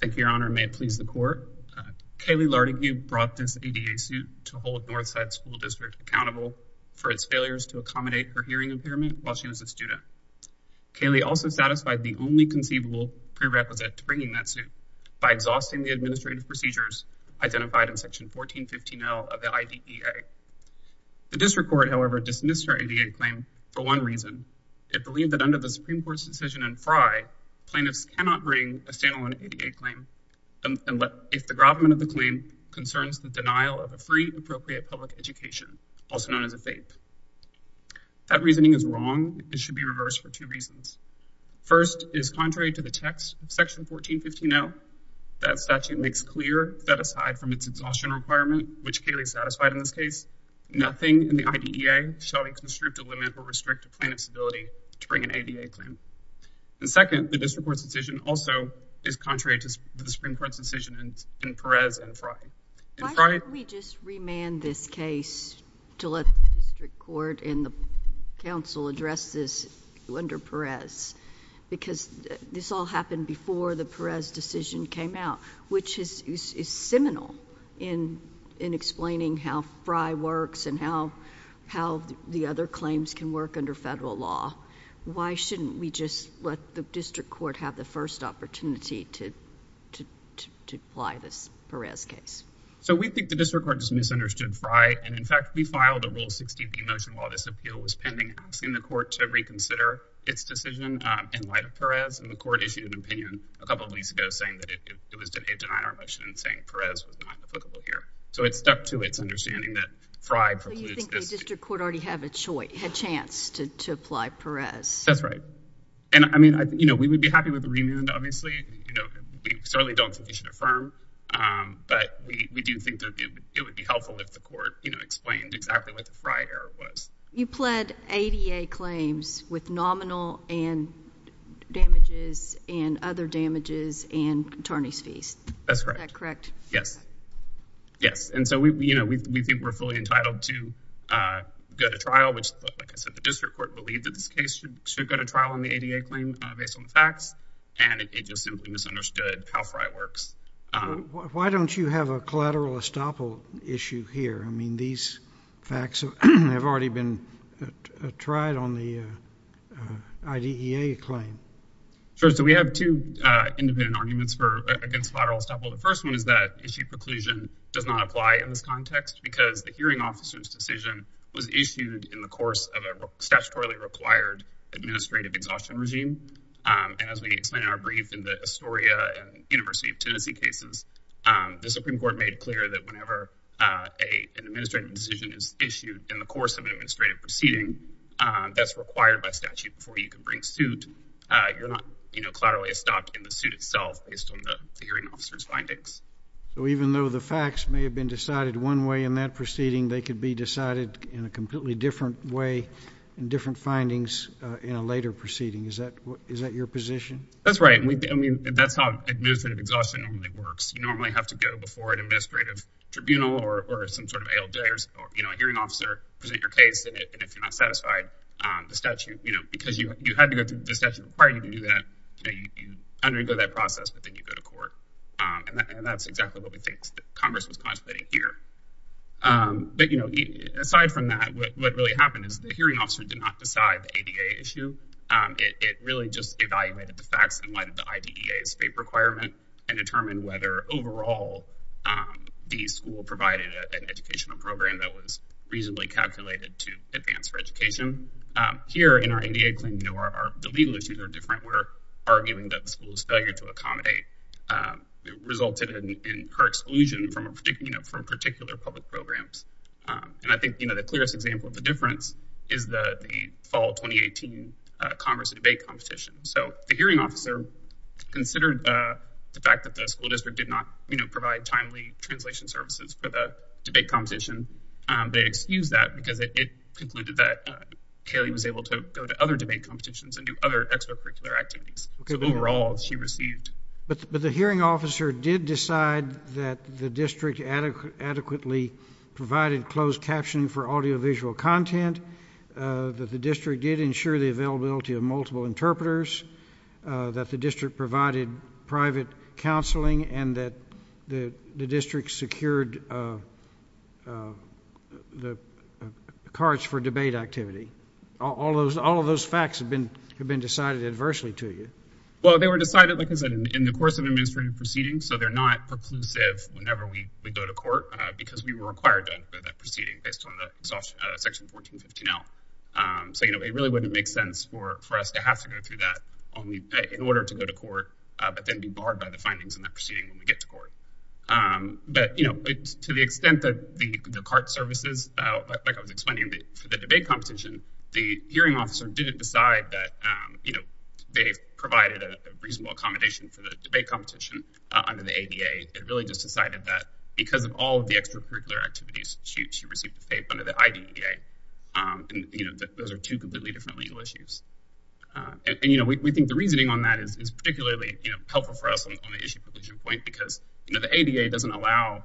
Thank you, Your Honor. May it please the Court. Kaylee Lartigue brought this ADA suit to hold Northside School District accountable for its failures to accommodate her hearing impairment while she was a student. Kaylee also satisfied the only conceivable prerequisite to bringing that suit by exhausting the administrative procedures identified in Section 1415L of Section 1415L. The Supreme Court, however, dismissed her ADA claim for one reason. It believed that under the Supreme Court's decision in Frye, plaintiffs cannot bring a standalone ADA claim if the government of the claim concerns the denial of a free and appropriate public education, also known as a FAPE. That reasoning is wrong. It should be reversed for two reasons. First is contrary to the text of Section 1415L. That statute makes clear that aside from its exhaustion requirement, which Kaylee satisfied in this case, nothing in the IDEA shall constrict a limit or restrict a plaintiff's ability to bring an ADA claim. And second, the District Court's decision also is contrary to the Supreme Court's decision in Perez and Frye. Why don't we just remand this case to let the District Court and the Council address this under Perez? Because this all happened before the Perez decision came out, which is seminal in explaining how Frye works and how the other claims can work under federal law. Why shouldn't we just let the District Court have the first opportunity to apply this Perez case? So we think the District Court just misunderstood Frye. And in fact, we filed a Rule 60p motion while this appeal was pending, asking the Court to reconsider its decision in light of Perez. And the Court issued an opinion a couple of weeks ago saying that it was a denier motion saying Perez was not applicable here. So it stuck to its understanding that Frye precludes this. So you think the District Court already had a chance to apply Perez? That's right. And I mean, you know, we would be happy with a remand, obviously. You know, we certainly don't think you should affirm. But we do think that it would be helpful if the Court, you know, explained exactly what the Frye error was. You pled ADA claims with nominal damages and other damages and attorney's fees. That's correct. Is that correct? Yes. Yes. And so, you know, we think we're fully entitled to go to trial, which, like I said, the District Court believed that this case should go to trial on the ADA claim based on the facts. And it just simply misunderstood how Frye works. Why don't you have a collateral estoppel issue here? I mean, these facts have already been tried on the IDEA claim. Sure. So we have two independent arguments for against collateral estoppel. The first one is that issue preclusion does not apply in this context because the hearing officer's decision was issued in the course of a statutorily required administrative exhaustion regime. And as we explained in our brief in the Astoria and University of Tennessee cases, the Supreme Court made clear that whenever an administrative decision is issued in the course of an administrative proceeding that's required by statute before you can bring suit, you're not, you know, collaterally estopped in the suit itself based on the hearing officer's findings. So even though the facts may have been decided one way in that proceeding, they could be decided in a completely different way in different findings in a later proceeding. Is that your position? That's right. I mean, that's how administrative exhaustion normally works. You normally have to go before an administrative tribunal or some sort of ALJ or, you know, a hearing officer, present your case, and if you're not satisfied, the statute, you know, because you had to go through the statute required you to do that, you know, you undergo that process, but then you go to court. And that's exactly what we think Congress was contemplating here. But, you know, aside from that, what really happened is the hearing officer did not decide the ADA issue. It really just evaluated the facts in light of the IDEA state requirement and determined whether overall the school provided an educational program that was reasonably calculated to advance for education. Here in our ADA claim, you know, the legal issues are different. We're arguing that the school's failure to accommodate resulted in her exclusion from particular public programs. And I think, you know, the Congress debate competition. So the hearing officer considered the fact that the school district did not, you know, provide timely translation services for the debate competition. They excused that because it concluded that Kaylee was able to go to other debate competitions and do other extracurricular activities. So overall, she received. But the hearing officer did decide that the district adequately provided closed captioning for audiovisual content, that the district did ensure the availability of multiple interpreters, that the district provided private counseling, and that the district secured the cards for debate activity. All of those facts have been decided adversely to you. Well, they were decided, like I said, in the course of administrative proceedings, so they're not preclusive whenever we go to court because we were required to proceed based on the section 1415L. So, you know, it really wouldn't make sense for us to have to go through that in order to go to court, but then be barred by the findings in that proceeding when we get to court. But, you know, to the extent that the CART services, like I was explaining, for the debate competition, the hearing officer didn't decide that, you know, they provided a reasonable accommodation for the debate competition under the ADA. They really just received the faith under the IDEA. And, you know, those are two completely different legal issues. And, you know, we think the reasoning on that is particularly, you know, helpful for us on the issue provision point because, you know, the ADA doesn't allow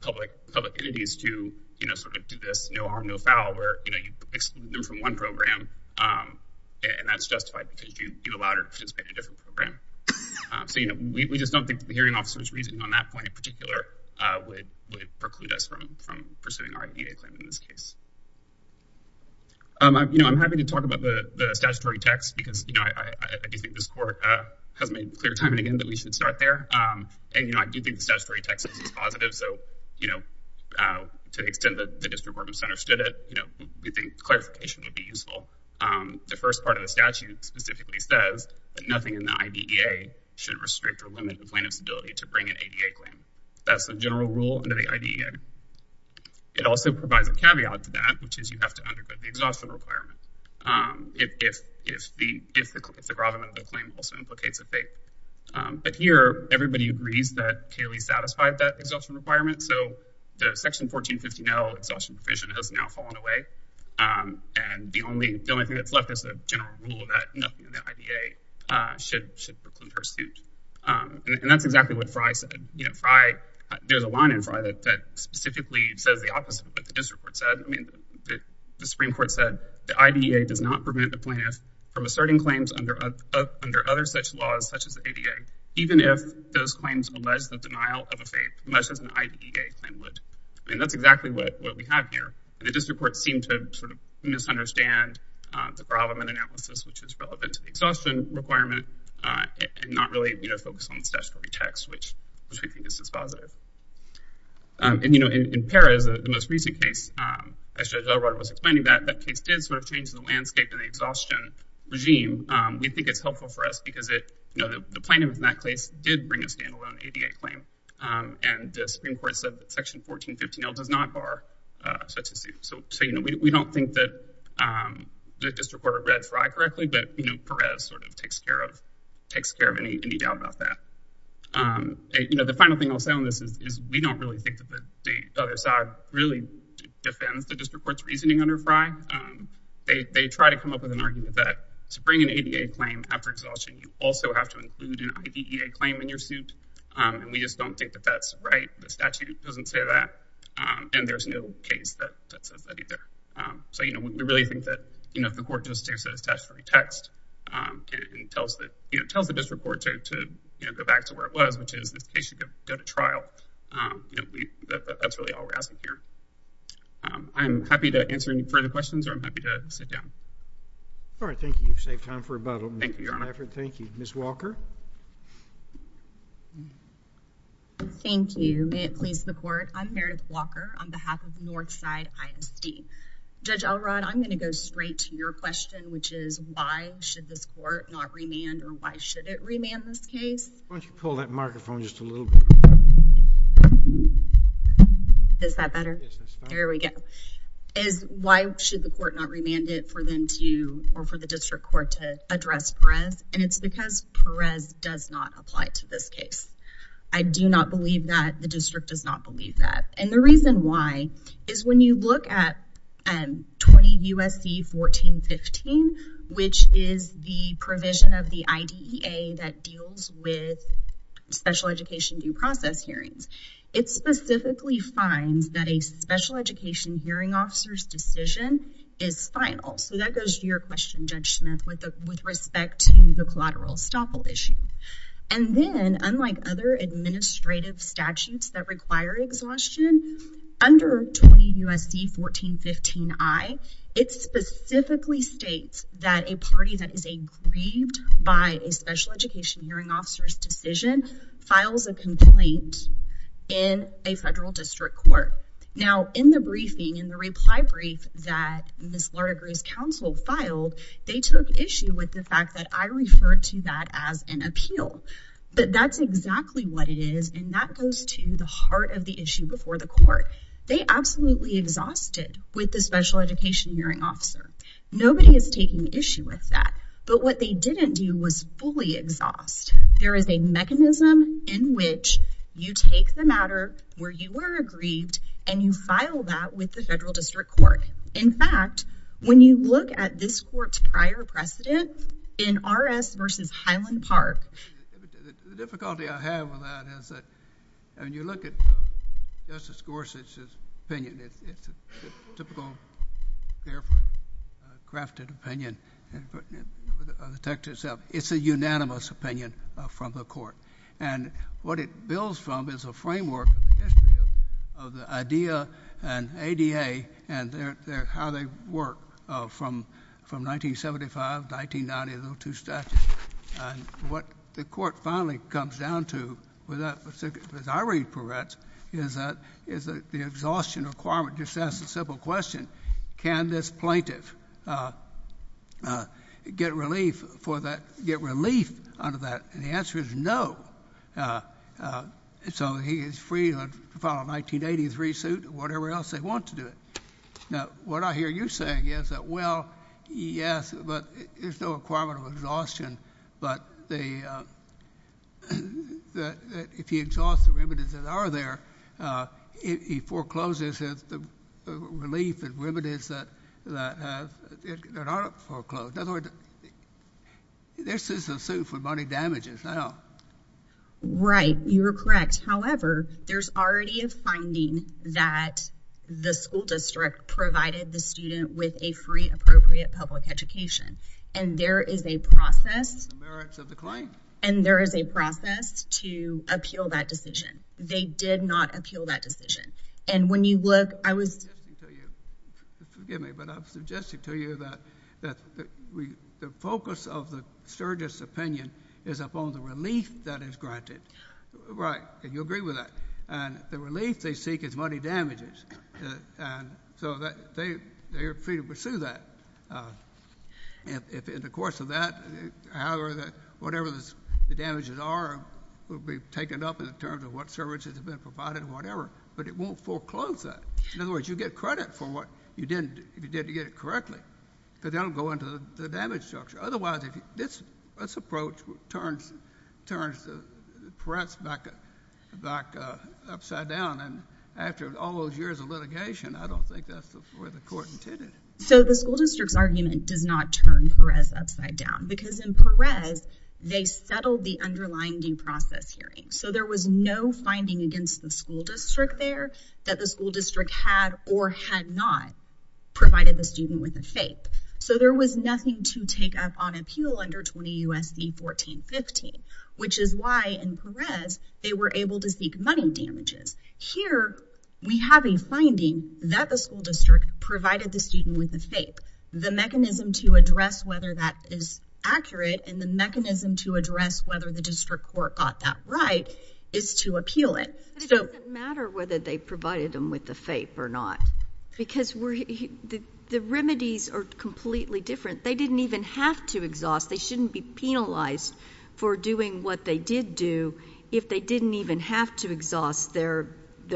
public entities to, you know, sort of do this no harm, no foul, where, you know, you exclude them from one program, and that's justified because you allow them to participate in a different program. So, you know, we just don't think that the hearing officer's reasoning on that point in particular would preclude us from pursuing our IDEA claim in this case. You know, I'm happy to talk about the statutory text because, you know, I do think this court has made clear time and again that we should start there. And, you know, I do think the statutory text is positive. So, you know, to the extent that the District Reporting Center stood it, you know, we think clarification would be useful. The first part of the statute specifically says that nothing in the IDEA should restrict or limit the plaintiff's ability to bring an ADA claim. That's the general rule under the IDEA. It also provides a caveat to that, which is you have to undergo the exhaustion requirement if the gravamen of the claim also implicates a fate. But here, everybody agrees that Kaylee satisfied that exhaustion requirement, so the Section 1415L exhaustion provision has now fallen away, and the only thing that's left is the general rule that nothing in the IDEA should preclude her suit. And that's exactly what Frye said. You know, Frye, there's a line in Frye that specifically says the opposite of what the District Court said. I mean, the Supreme Court said the IDEA does not prevent the plaintiff from asserting claims under other such laws, such as ADA, even if those claims allege the denial of a fate, much as an IDEA claim would. I mean, that's exactly what we have here. The District Court seemed to sort of misunderstand the gravamen analysis, which is relevant to the exhaustion requirement, and not really focus on the statutory text, which we think is just positive. And, you know, in Pera, the most recent case, as Judge Elrod was explaining that, that case did sort of change the landscape and the exhaustion regime. We think it's helpful for us because it, you know, the plaintiff in that case did bring a standalone ADA claim, and the Supreme Court said that Section 1415L does not bar such a suit. So, you know, we don't think that the District Court read Frye correctly, but, you know, Perez sort of takes care of any doubt about that. You know, the final thing I'll say on this is we don't really think that the other side really defends the District Court's reasoning under Frye. They try to come up with an argument that to bring an ADA claim after exhaustion, you also have to include an IDEA claim in your suit. And we just don't think that that's right. The statute doesn't say that, and there's no case that says that either. So, you know, we really think that, you know, if the Court just takes a statutory text and tells the District Court to, you know, go back to where it was, which is this case should go to trial, you know, that's really all we're asking here. I'm happy to answer any further questions, or I'm happy to sit down. All right. Thank you. You've saved time for about a minute. Thank you, Your Honor. Thank you. Ms. Walker? Thank you. May it please the Court, I'm Meredith Walker on behalf of Northside ISD. Judge Elrod, I'm going to go straight to your question, which is why should this Court not remand, or why should it remand this case? Why don't you pull that microphone just a little bit? Is that better? Yes, that's fine. There we go. Is why should the Court not remand it for them to, or for the District Court to address Perez? And it's because Perez is a very, very does not apply to this case. I do not believe that. The District does not believe that. And the reason why is when you look at 20 U.S.C. 1415, which is the provision of the IDEA that deals with special education due process hearings, it specifically finds that a special education hearing officer's decision is final. So that goes to your question, Judge Smith, with respect to the collateral estoppel issue. And then, unlike other administrative statutes that require exhaustion, under 20 U.S.C. 1415I, it specifically states that a party that is aggrieved by a special education hearing officer's decision files a complaint in a federal District Court. Now, in the briefing, in the reply brief that Ms. Lardigrew's counsel filed, they took issue with the fact that I referred to that as an appeal. But that's exactly what it is, and that goes to the heart of the issue before the Court. They absolutely exhausted with the special education hearing officer. Nobody is taking issue with that. But what they didn't do was fully exhaust. There is a mechanism in which you take the matter where you were aggrieved and you file that with the federal District Court. In fact, when you look at this Court's prior precedent in R.S. v. Highland Park... The difficulty I have with that is that when you look at Justice Gorsuch's opinion, it's a typical, carefully crafted opinion of the text itself. It's a unanimous opinion from the Court. And what it builds from is a framework of the history of the IDEA and ADA and how they work from 1975, 1990, those two statutes. And what the Court finally comes down to, as I read Peretz, is the exhaustion requirement. Just ask a simple question. Can this plaintiff get relief under that? And the answer is no. So he is free to file a 1983 suit or whatever else they want to do it. Now, what I hear you saying is that, well, yes, but there's no requirement of exhaustion. But if he exhausts the remedies that are there, he forecloses the relief and they're not foreclosed. In other words, this is a suit for money damages now. Right. You are correct. However, there's already a finding that the school district provided the student with a free, appropriate public education. And there is a process... The merits of the claim. And there is a process to appeal that decision. They did not appeal that decision. And when you hear that, the focus of the surrogate's opinion is upon the relief that is granted. Right. And you agree with that. And the relief they seek is money damages. And so they are free to pursue that. In the course of that, however, whatever the damages are, will be taken up in terms of what services have been provided and whatever. But it won't foreclose that. In other words, you get credit for what you did to get it correctly because that will go into the damage structure. Otherwise, this approach turns Perez upside down. And after all those years of litigation, I don't think that's the way the court intended. So the school district's argument does not turn Perez upside down because in Perez, they settled the underlying due process hearing. So there was no finding against the school district there that the school district had or had not provided the student with a FAPE. So there was nothing to take up on appeal under 20 U.S.C. 1415, which is why in Perez, they were able to seek money damages. Here, we have a finding that the school district provided the student with a FAPE. The mechanism to address whether that is accurate and the mechanism to address whether the district court got that right is to appeal it. But it doesn't matter whether they provided them with the FAPE or not because the remedies are completely different. They didn't even have to exhaust. They shouldn't be penalized for doing what they did do if they didn't even have to exhaust their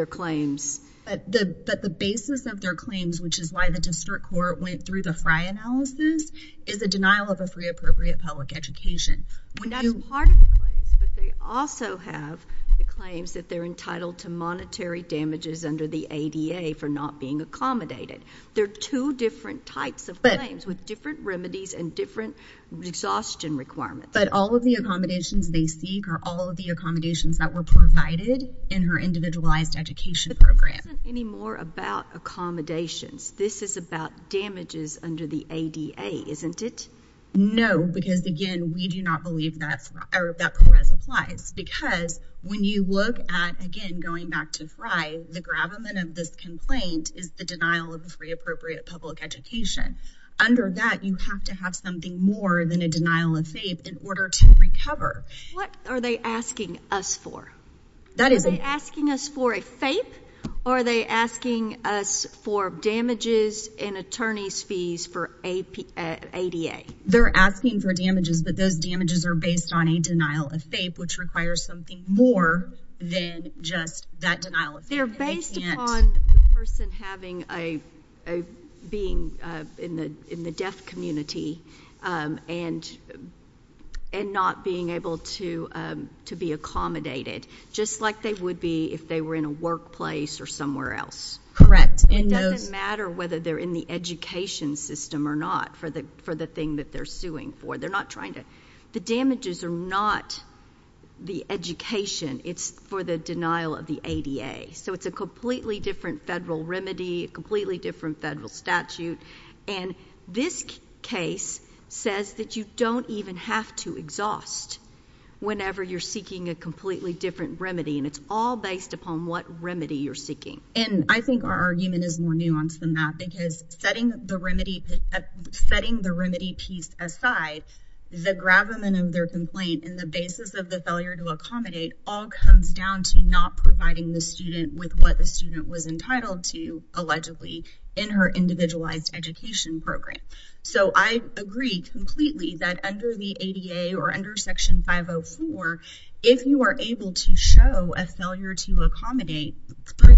claims. But the basis of their claims, which is why the district court went through the Frye analysis, is a denial of a free, appropriate public education. That is part of the claims, but they also have the claims that they're entitled to monetary damages under the ADA for not being accommodated. There are two different types of claims with different remedies and different exhaustion requirements. But all of the accommodations they seek are all of the accommodations that were provided in her individualized education program. But this isn't any more about accommodations. This is about damages under the ADA, isn't it? No, because, again, we do not believe that Perez applies. Because when you look at, again, going back to Frye, the gravamen of this complaint is the denial of free, appropriate public education. Under that, you have to have something more than a denial of FAPE in order to recover. What are they asking us for? Are they asking us for a FAPE or are they asking us for damages in attorney's fees for ADA? They're asking for damages, but those damages are based on a denial of FAPE, which requires something more than just that denial of FAPE. They're based upon the person being in the deaf community and not being able to be accommodated, just like they would be if they were in a workplace or somewhere else. It doesn't matter whether they're in the education system or not for the thing that they're suing for. The damages are not the education. It's for the denial of the ADA. It's a completely different federal remedy, a completely different federal statute. This case says that you don't even have to exhaust whenever you're seeking a completely different remedy. It's all based upon what remedy you're seeking. And I think our argument is more nuanced than that because setting the remedy piece aside, the gravamen of their complaint and the basis of the failure to accommodate all comes down to not providing the student with what the student was entitled to, allegedly, in her individualized education program. So, I agree completely that under the ADA or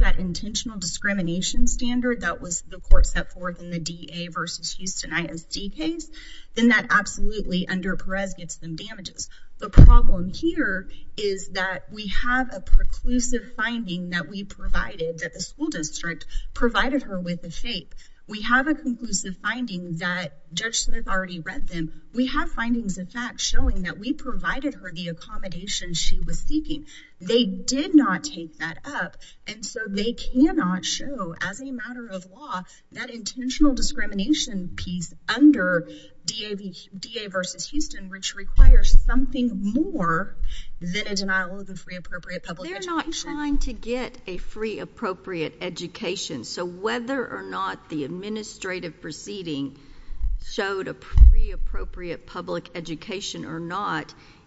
that intentional discrimination standard that was the court set forth in the DA versus Houston ISD case, then that absolutely, under Perez, gets them damages. The problem here is that we have a preclusive finding that we provided, that the school district provided her with the FAPE. We have a conclusive finding that Judge Smith already read them. We have findings, in fact, showing that we provided her the accommodation she was seeking. They did not take that up, and so they cannot show, as a matter of law, that intentional discrimination piece under DA versus Houston, which requires something more than a denial of a free, appropriate public education. They're not trying to get a free, appropriate education. So, whether or not the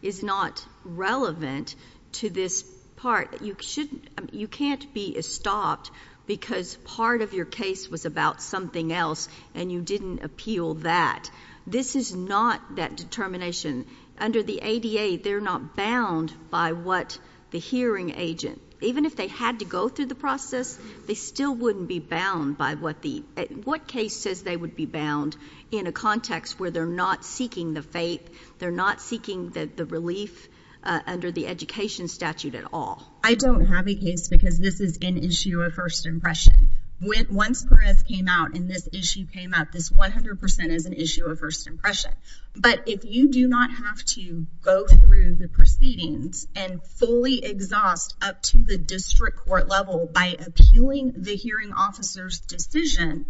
is not relevant to this part, you can't be stopped because part of your case was about something else and you didn't appeal that. This is not that determination. Under the ADA, they're not bound by what the hearing agent, even if they had to go through the process, they still wouldn't be bound by what the, what case says they would be bound in a context where they're not seeking the FAPE. They're not seeking the relief under the education statute at all. I don't have a case because this is an issue of first impression. Once Perez came out and this issue came up, this 100% is an issue of first impression. But if you do not have to go through the proceedings and fully exhaust up to the district court level by appealing the hearing officer's decision,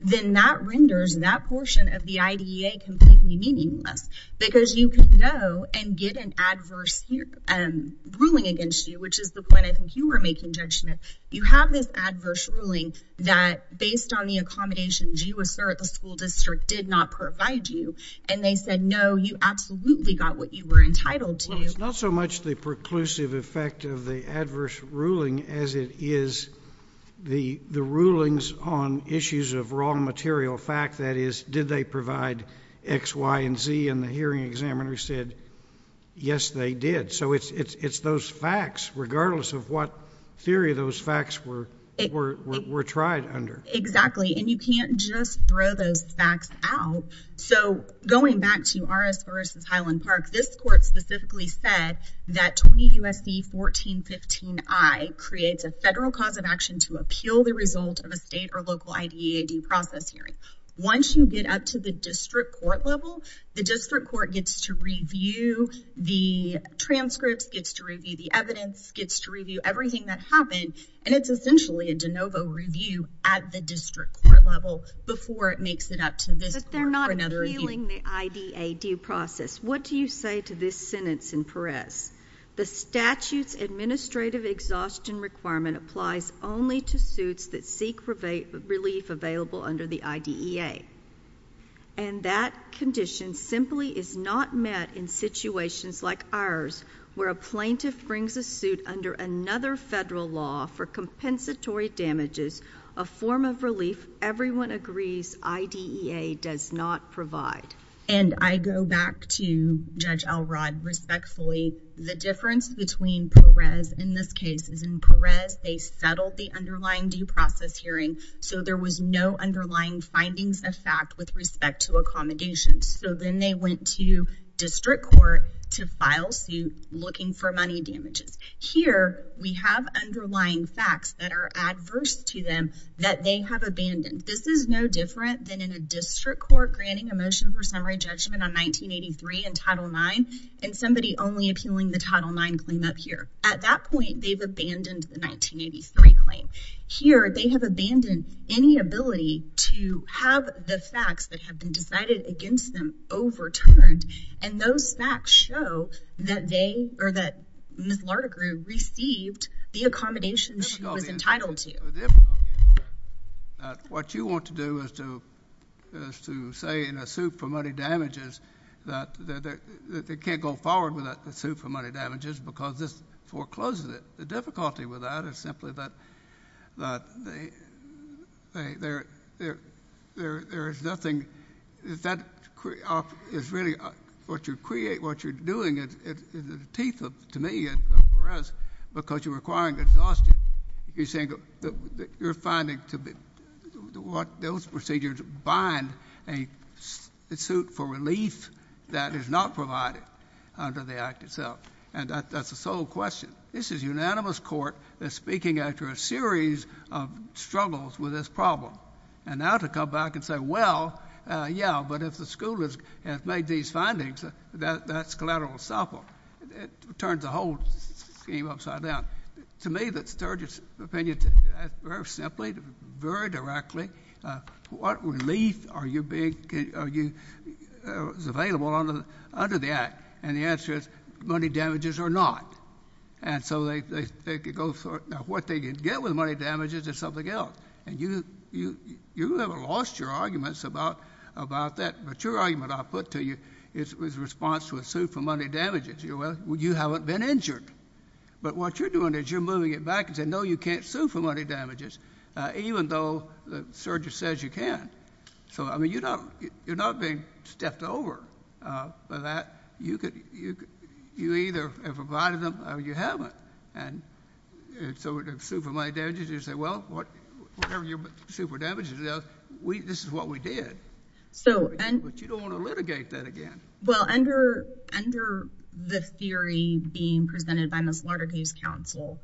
then that renders that portion of the IDEA completely meaningless because you can go and get an adverse ruling against you, which is the point I think you were making, Judge Smith. You have this adverse ruling that based on the accommodations you assert the school district did not provide you and they said, no, you absolutely got what you were entitled to. Well, it's not so much the preclusive effect of the adverse ruling as it is the rulings on issues of wrong material fact. That is, did they provide X, Y, and Z and the hearing examiner said, yes, they did. So it's those facts, regardless of what theory those facts were tried under. Exactly. And you can't just throw those facts out. So going back to Aris versus Highland Park, this court specifically said that 20 U.S.C. 1415I creates a federal cause of action to appeal the result of a state or local IDEA due process hearing. Once you get up to the district court level, the district court gets to review the transcripts, gets to review the evidence, gets to review everything that happened, and it's essentially a de novo review at the district court level before it makes it up to this court for another review. But they're not appealing the IDEA due process. What do you say to this sentence in Perez? The statute's administrative exhaustion requirement applies only to suits that seek relief available under the IDEA. And that condition simply is not met in situations like ours where a plaintiff brings a suit under another federal law for compensatory damages, a form of relief everyone agrees IDEA does not provide. And I go back to Perez. They settled the underlying due process hearing, so there was no underlying findings of fact with respect to accommodations. So then they went to district court to file suit looking for money damages. Here, we have underlying facts that are adverse to them that they have abandoned. This is no different than in a district court granting a motion for summary judgment on 1983 and Title IX and somebody only appealing the Title IX claim up here. At that point, they've abandoned the 1983 claim. Here, they have abandoned any ability to have the facts that have been decided against them overturned, and those facts show that they or that Ms. Lardigrew received the accommodations she was entitled to. What you want to do is to say in a suit for money damages that they can't go forward without the suit for money damages because this forecloses it. The difficulty with that is simply that there is nothing—that is really what you're doing in the teeth, to me, of Perez, because you're requiring exhaustion. You're saying that you're finding that those procedures bind a suit for relief that is not provided under the act itself, and that's the sole question. This is unanimous court that's speaking after a series of struggles with this problem, and now to come back and say, well, yeah, but if the school has made these findings, that's collateral assault. It turns the whole scheme upside down. To me, that's Sturgis' opinion. Very simply, very directly, what relief are you being—is available under the act? And the answer is money damages or not, and so they could go—now, what they get with money damages is something else, and you haven't lost your arguments about that, but your argument I'll put to you is a response to a suit for money damages. You haven't been injured, but what you're doing is moving it back and saying, no, you can't sue for money damages, even though Sturgis says you can. So, I mean, you're not being stepped over by that. You either have provided them or you haven't, and so a suit for money damages, you say, well, whatever your suit for damages is, this is what we did, but you don't want to litigate that again. Well, under the theory being presented by Ms. Lardigue's counsel,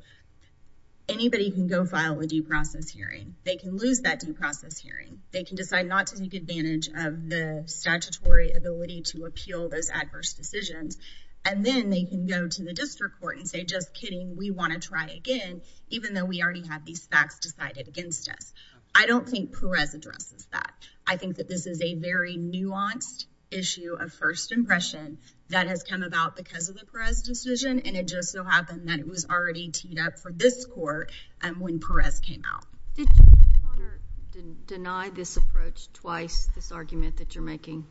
anybody can go file a due process hearing. They can lose that due process hearing. They can decide not to take advantage of the statutory ability to appeal those adverse decisions, and then they can go to the district court and say, just kidding, we want to try again, even though we already have these facts decided against us. I don't think Perez addresses that. I think that this is a very nuanced issue of first impression that has come about because of the Perez decision, and it just so happened that it was already teed up for this court when Perez came out. Did you ever deny this approach twice, this argument that you're making?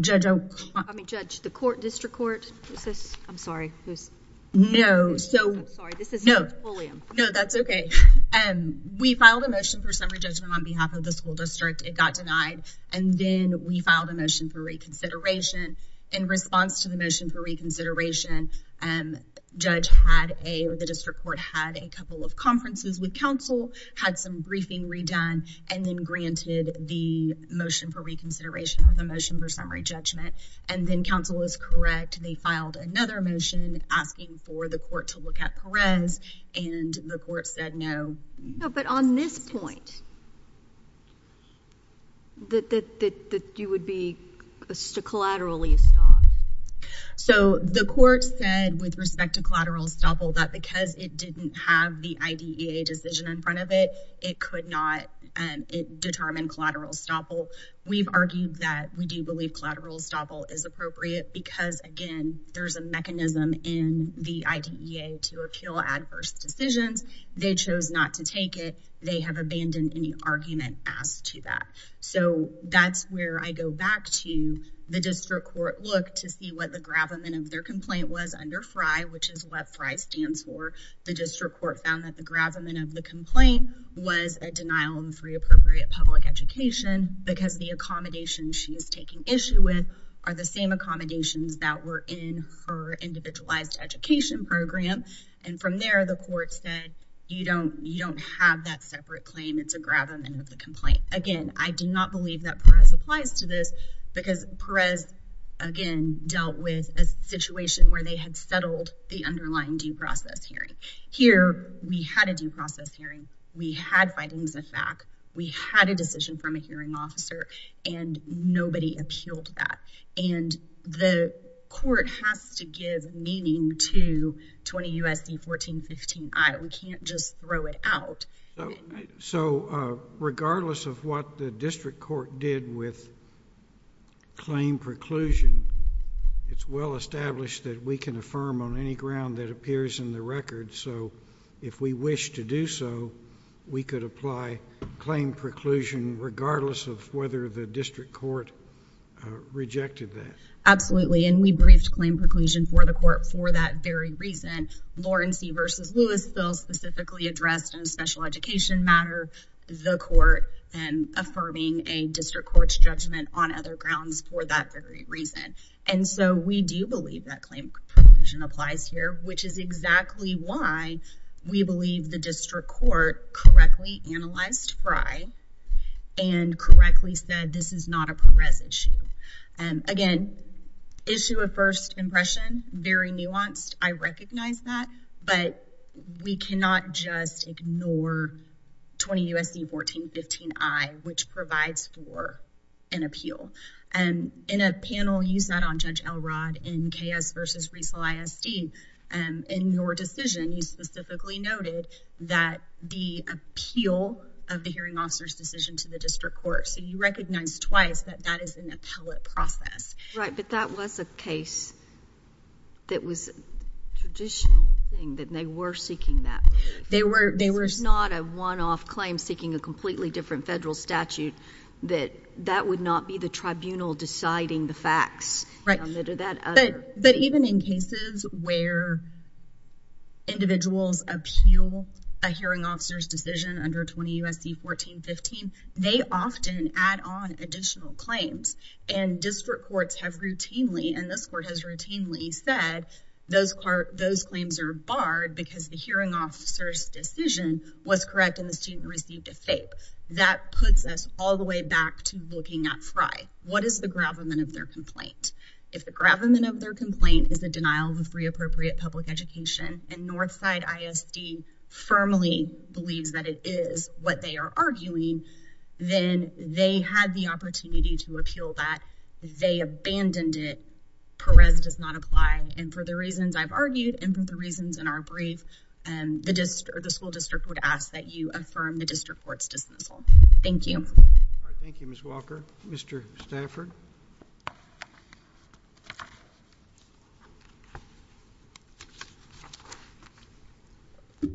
Judge, I'm... I mean, judge, the court, district court, who's this? I'm sorry, who's... No, so... I'm sorry, this is not a julium. No, that's okay. We filed a motion for summary judgment on behalf of the school district. It got denied, and then we filed a motion for reconsideration in response to the motion for reconsideration. Judge had a... the district court had a couple of conferences with counsel, had some briefing redone, and then granted the motion for reconsideration and the motion for summary judgment, and then counsel was correct. They filed another motion asking for the court to look at Perez, and the court said no. No, but on this stop. So, the court said, with respect to collateral estoppel, that because it didn't have the IDEA decision in front of it, it could not determine collateral estoppel. We've argued that we do believe collateral estoppel is appropriate because, again, there's a mechanism in the IDEA to appeal adverse decisions. They chose not to take it. They have abandoned any argument asked to that. So, that's where I go back to the district court look to see what the gravamen of their complaint was under FRI, which is what FRI stands for. The district court found that the gravamen of the complaint was a denial of free appropriate public education because the accommodation she is taking issue with are the same accommodations that were in her individualized education program, and from there, the court said you don't have that separate claim. It's a complaint. Again, I do not believe that Perez applies to this because Perez, again, dealt with a situation where they had settled the underlying due process hearing. Here, we had a due process hearing. We had findings of fact. We had a decision from a hearing officer, and nobody appealed that, and the court has to give meaning to 20 U.S.C. 1415I. We can't just throw it out. So, regardless of what the district court did with claim preclusion, it's well established that we can affirm on any ground that appears in the record. So, if we wish to do so, we could apply claim preclusion regardless of whether the district court rejected that. Absolutely, and we briefed claim preclusion for the court for that very reason. Lawrence v. Lewis bill specifically addressed in a special education matter the court and affirming a district court's judgment on other grounds for that very reason, and so we do believe that claim preclusion applies here, which is exactly why we believe the district court correctly analyzed Fry and correctly said this is not a Perez issue. Again, issue of first impression, very nuanced. I recognize that, but we cannot just ignore 20 U.S.C. 1415I, which provides for an appeal. In a panel, you sat on Judge Elrod in K.S. v. Riesel ISD. In your decision, you specifically noted that the appeal of the hearing officer's decision to the district court, so you recognized twice that that is an appellate process. Right, but that was a case that was a traditional thing that they were seeking that. They were not a one-off claim seeking a completely different federal statute that that would not be the tribunal deciding the facts. Right, but even in cases where individuals appeal a hearing officer's decision under 20 U.S.C. 1415, they often add on additional claims, and district courts have routinely, and this court has routinely said those claims are barred because the hearing officer's decision was correct and the student received a FAPE. That puts us all the way back to looking at Fry. What is the gravamen of their complaint? If the gravamen of their complaint is the denial of free appropriate public education, and Northside ISD firmly believes that it is what they are arguing, then they had the opportunity to appeal that. They abandoned it. Perez does not apply, and for the reasons I've argued, and for the reasons in our brief, the school district would ask that you affirm the district court's dismissal. Thank you. Thank you, Ms. Walker. Mr. Stafford? If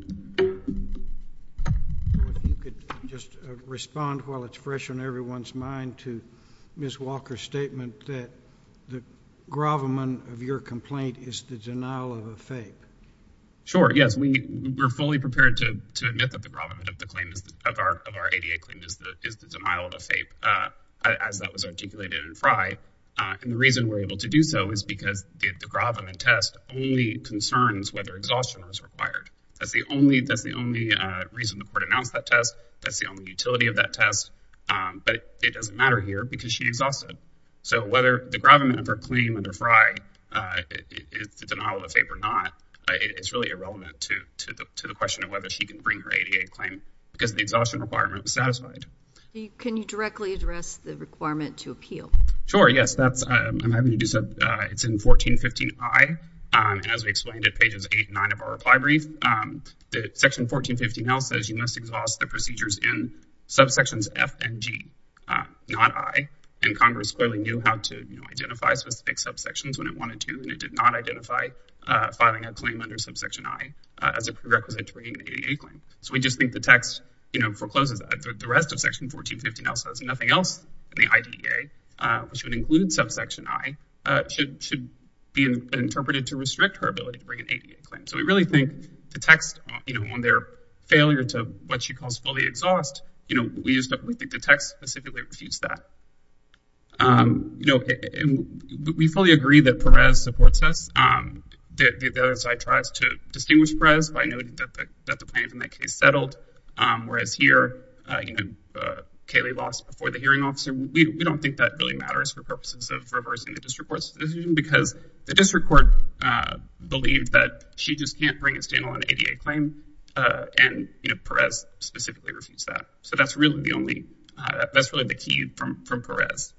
you could just respond while it's fresh on everyone's mind to Ms. Walker's statement that the gravamen of your complaint is the denial of a FAPE. Sure, yes. We were fully prepared to admit that the gravamen of our ADA claim is the denial of Fry, and the reason we're able to do so is because the gravamen test only concerns whether exhaustion was required. That's the only reason the court announced that test. That's the only utility of that test, but it doesn't matter here because she exhausted. So whether the gravamen of her claim under Fry is the denial of a FAPE or not, it's really irrelevant to the question of whether she can bring her ADA claim because the exhaustion requirement was satisfied. Can you directly address the requirement to appeal? Sure, yes. It's in 1415I, as we explained at pages 8 and 9 of our reply brief. Section 1415L says you must exhaust the procedures in subsections F and G, not I, and Congress clearly knew how to identify specific subsections when it wanted to, and it did not identify filing a claim under subsection I as a prerequisite to bringing an ADA claim. So we just think the text forecloses that. The rest of section 1415L says nothing else in the IDEA, which would include subsection I, should be interpreted to restrict her ability to bring an ADA claim. So we really think the text on their failure to, what she calls, fully exhaust, we think the text specifically refutes that. We fully agree that Perez supports the process. The other side tries to distinguish Perez by noting that the plaintiff in that case settled, whereas here Kayleigh lost before the hearing officer. We don't think that really matters for purposes of reversing the district court's decision because the district court believed that she just can't bring a standalone ADA claim and Perez specifically refutes that. So that's really the only, that's really the key from Perez.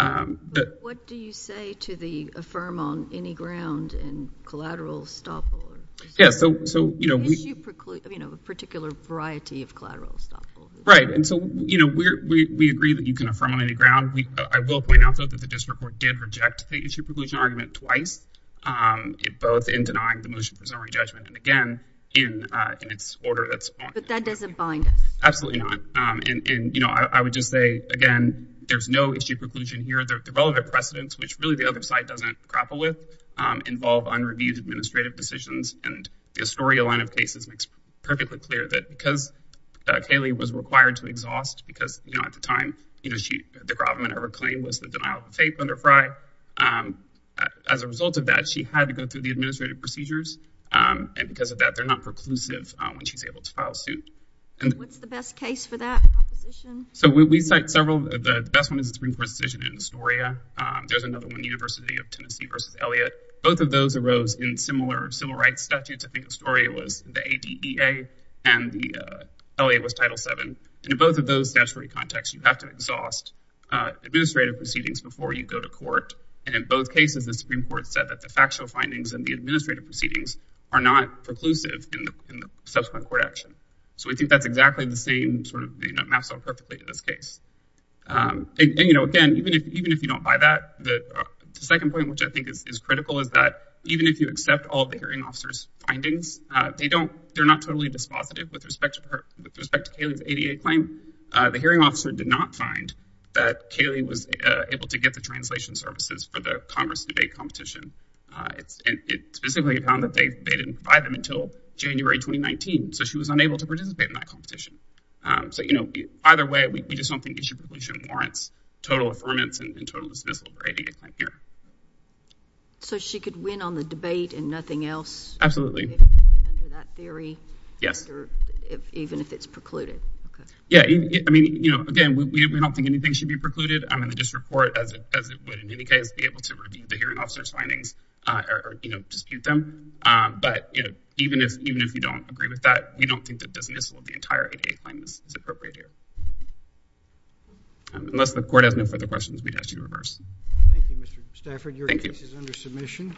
But what do you say to the affirm on any ground and collateral stop? Yeah, so, so, you know, we, you know, a particular variety of collateral stop. Right. And so, you know, we're, we, we agree that you can affirm on any ground. We, I will point out though, that the district court did reject the issue preclusion argument twice, both in denying the motion for summary judgment and again, in, in its order, that's fine. But that doesn't bind us. Absolutely not. And, and, you know, I would just say, again, there's no issue preclusion here. The relevant precedents, which really the other side doesn't grapple with, involve unreviewed administrative decisions. And the Astoria line of cases makes perfectly clear that because Kayleigh was required to exhaust, because, you know, at the time, you know, she, the gravamen of her claim was the denial of the faith under Frye. As a result of that, she had to go through the administrative procedures. And because of that, they're not preclusive when she's able to file suit. And what's the best case for that opposition? So we cite several, the best one is the Supreme Court decision in Astoria. There's another one, University of Tennessee versus Elliott. Both of those arose in similar civil rights statutes. I think Astoria was the ADEA and the Elliott was Title VII. And in both of those statutory contexts, you have to exhaust administrative proceedings before you go to court. And in both cases, the Supreme Court said that the factual findings and the administrative proceedings are not preclusive in the subsequent court action. So we think that's exactly the same sort of, you know, it maps out perfectly to this case. And, you know, again, even if you don't buy that, the second point, which I think is critical, is that even if you accept all the hearing officer's findings, they don't, they're not totally dispositive with respect to Kayleigh's ADA claim. The hearing officer did not find that Kayleigh was able to get the translation services for the Congress debate competition. It specifically found that they didn't provide them until January 2019. So she was unable to participate in that competition. So, you know, either way, we just don't think issue preclusion warrants total affirmance and total dismissal for ADA claim here. So she could win on the debate and nothing else? Absolutely. Under that theory? Yes. Even if it's precluded? Okay. Yeah. I mean, you know, again, we don't think anything should be precluded. I mean, as it would, in any case, be able to review the hearing officer's findings or, you know, dispute them. But, you know, even if you don't agree with that, we don't think that dismissal of the entire ADA claim is appropriate here. Unless the court has no further questions, we'd ask you to reverse. Thank you, Mr. Stafford. Your case is under submission.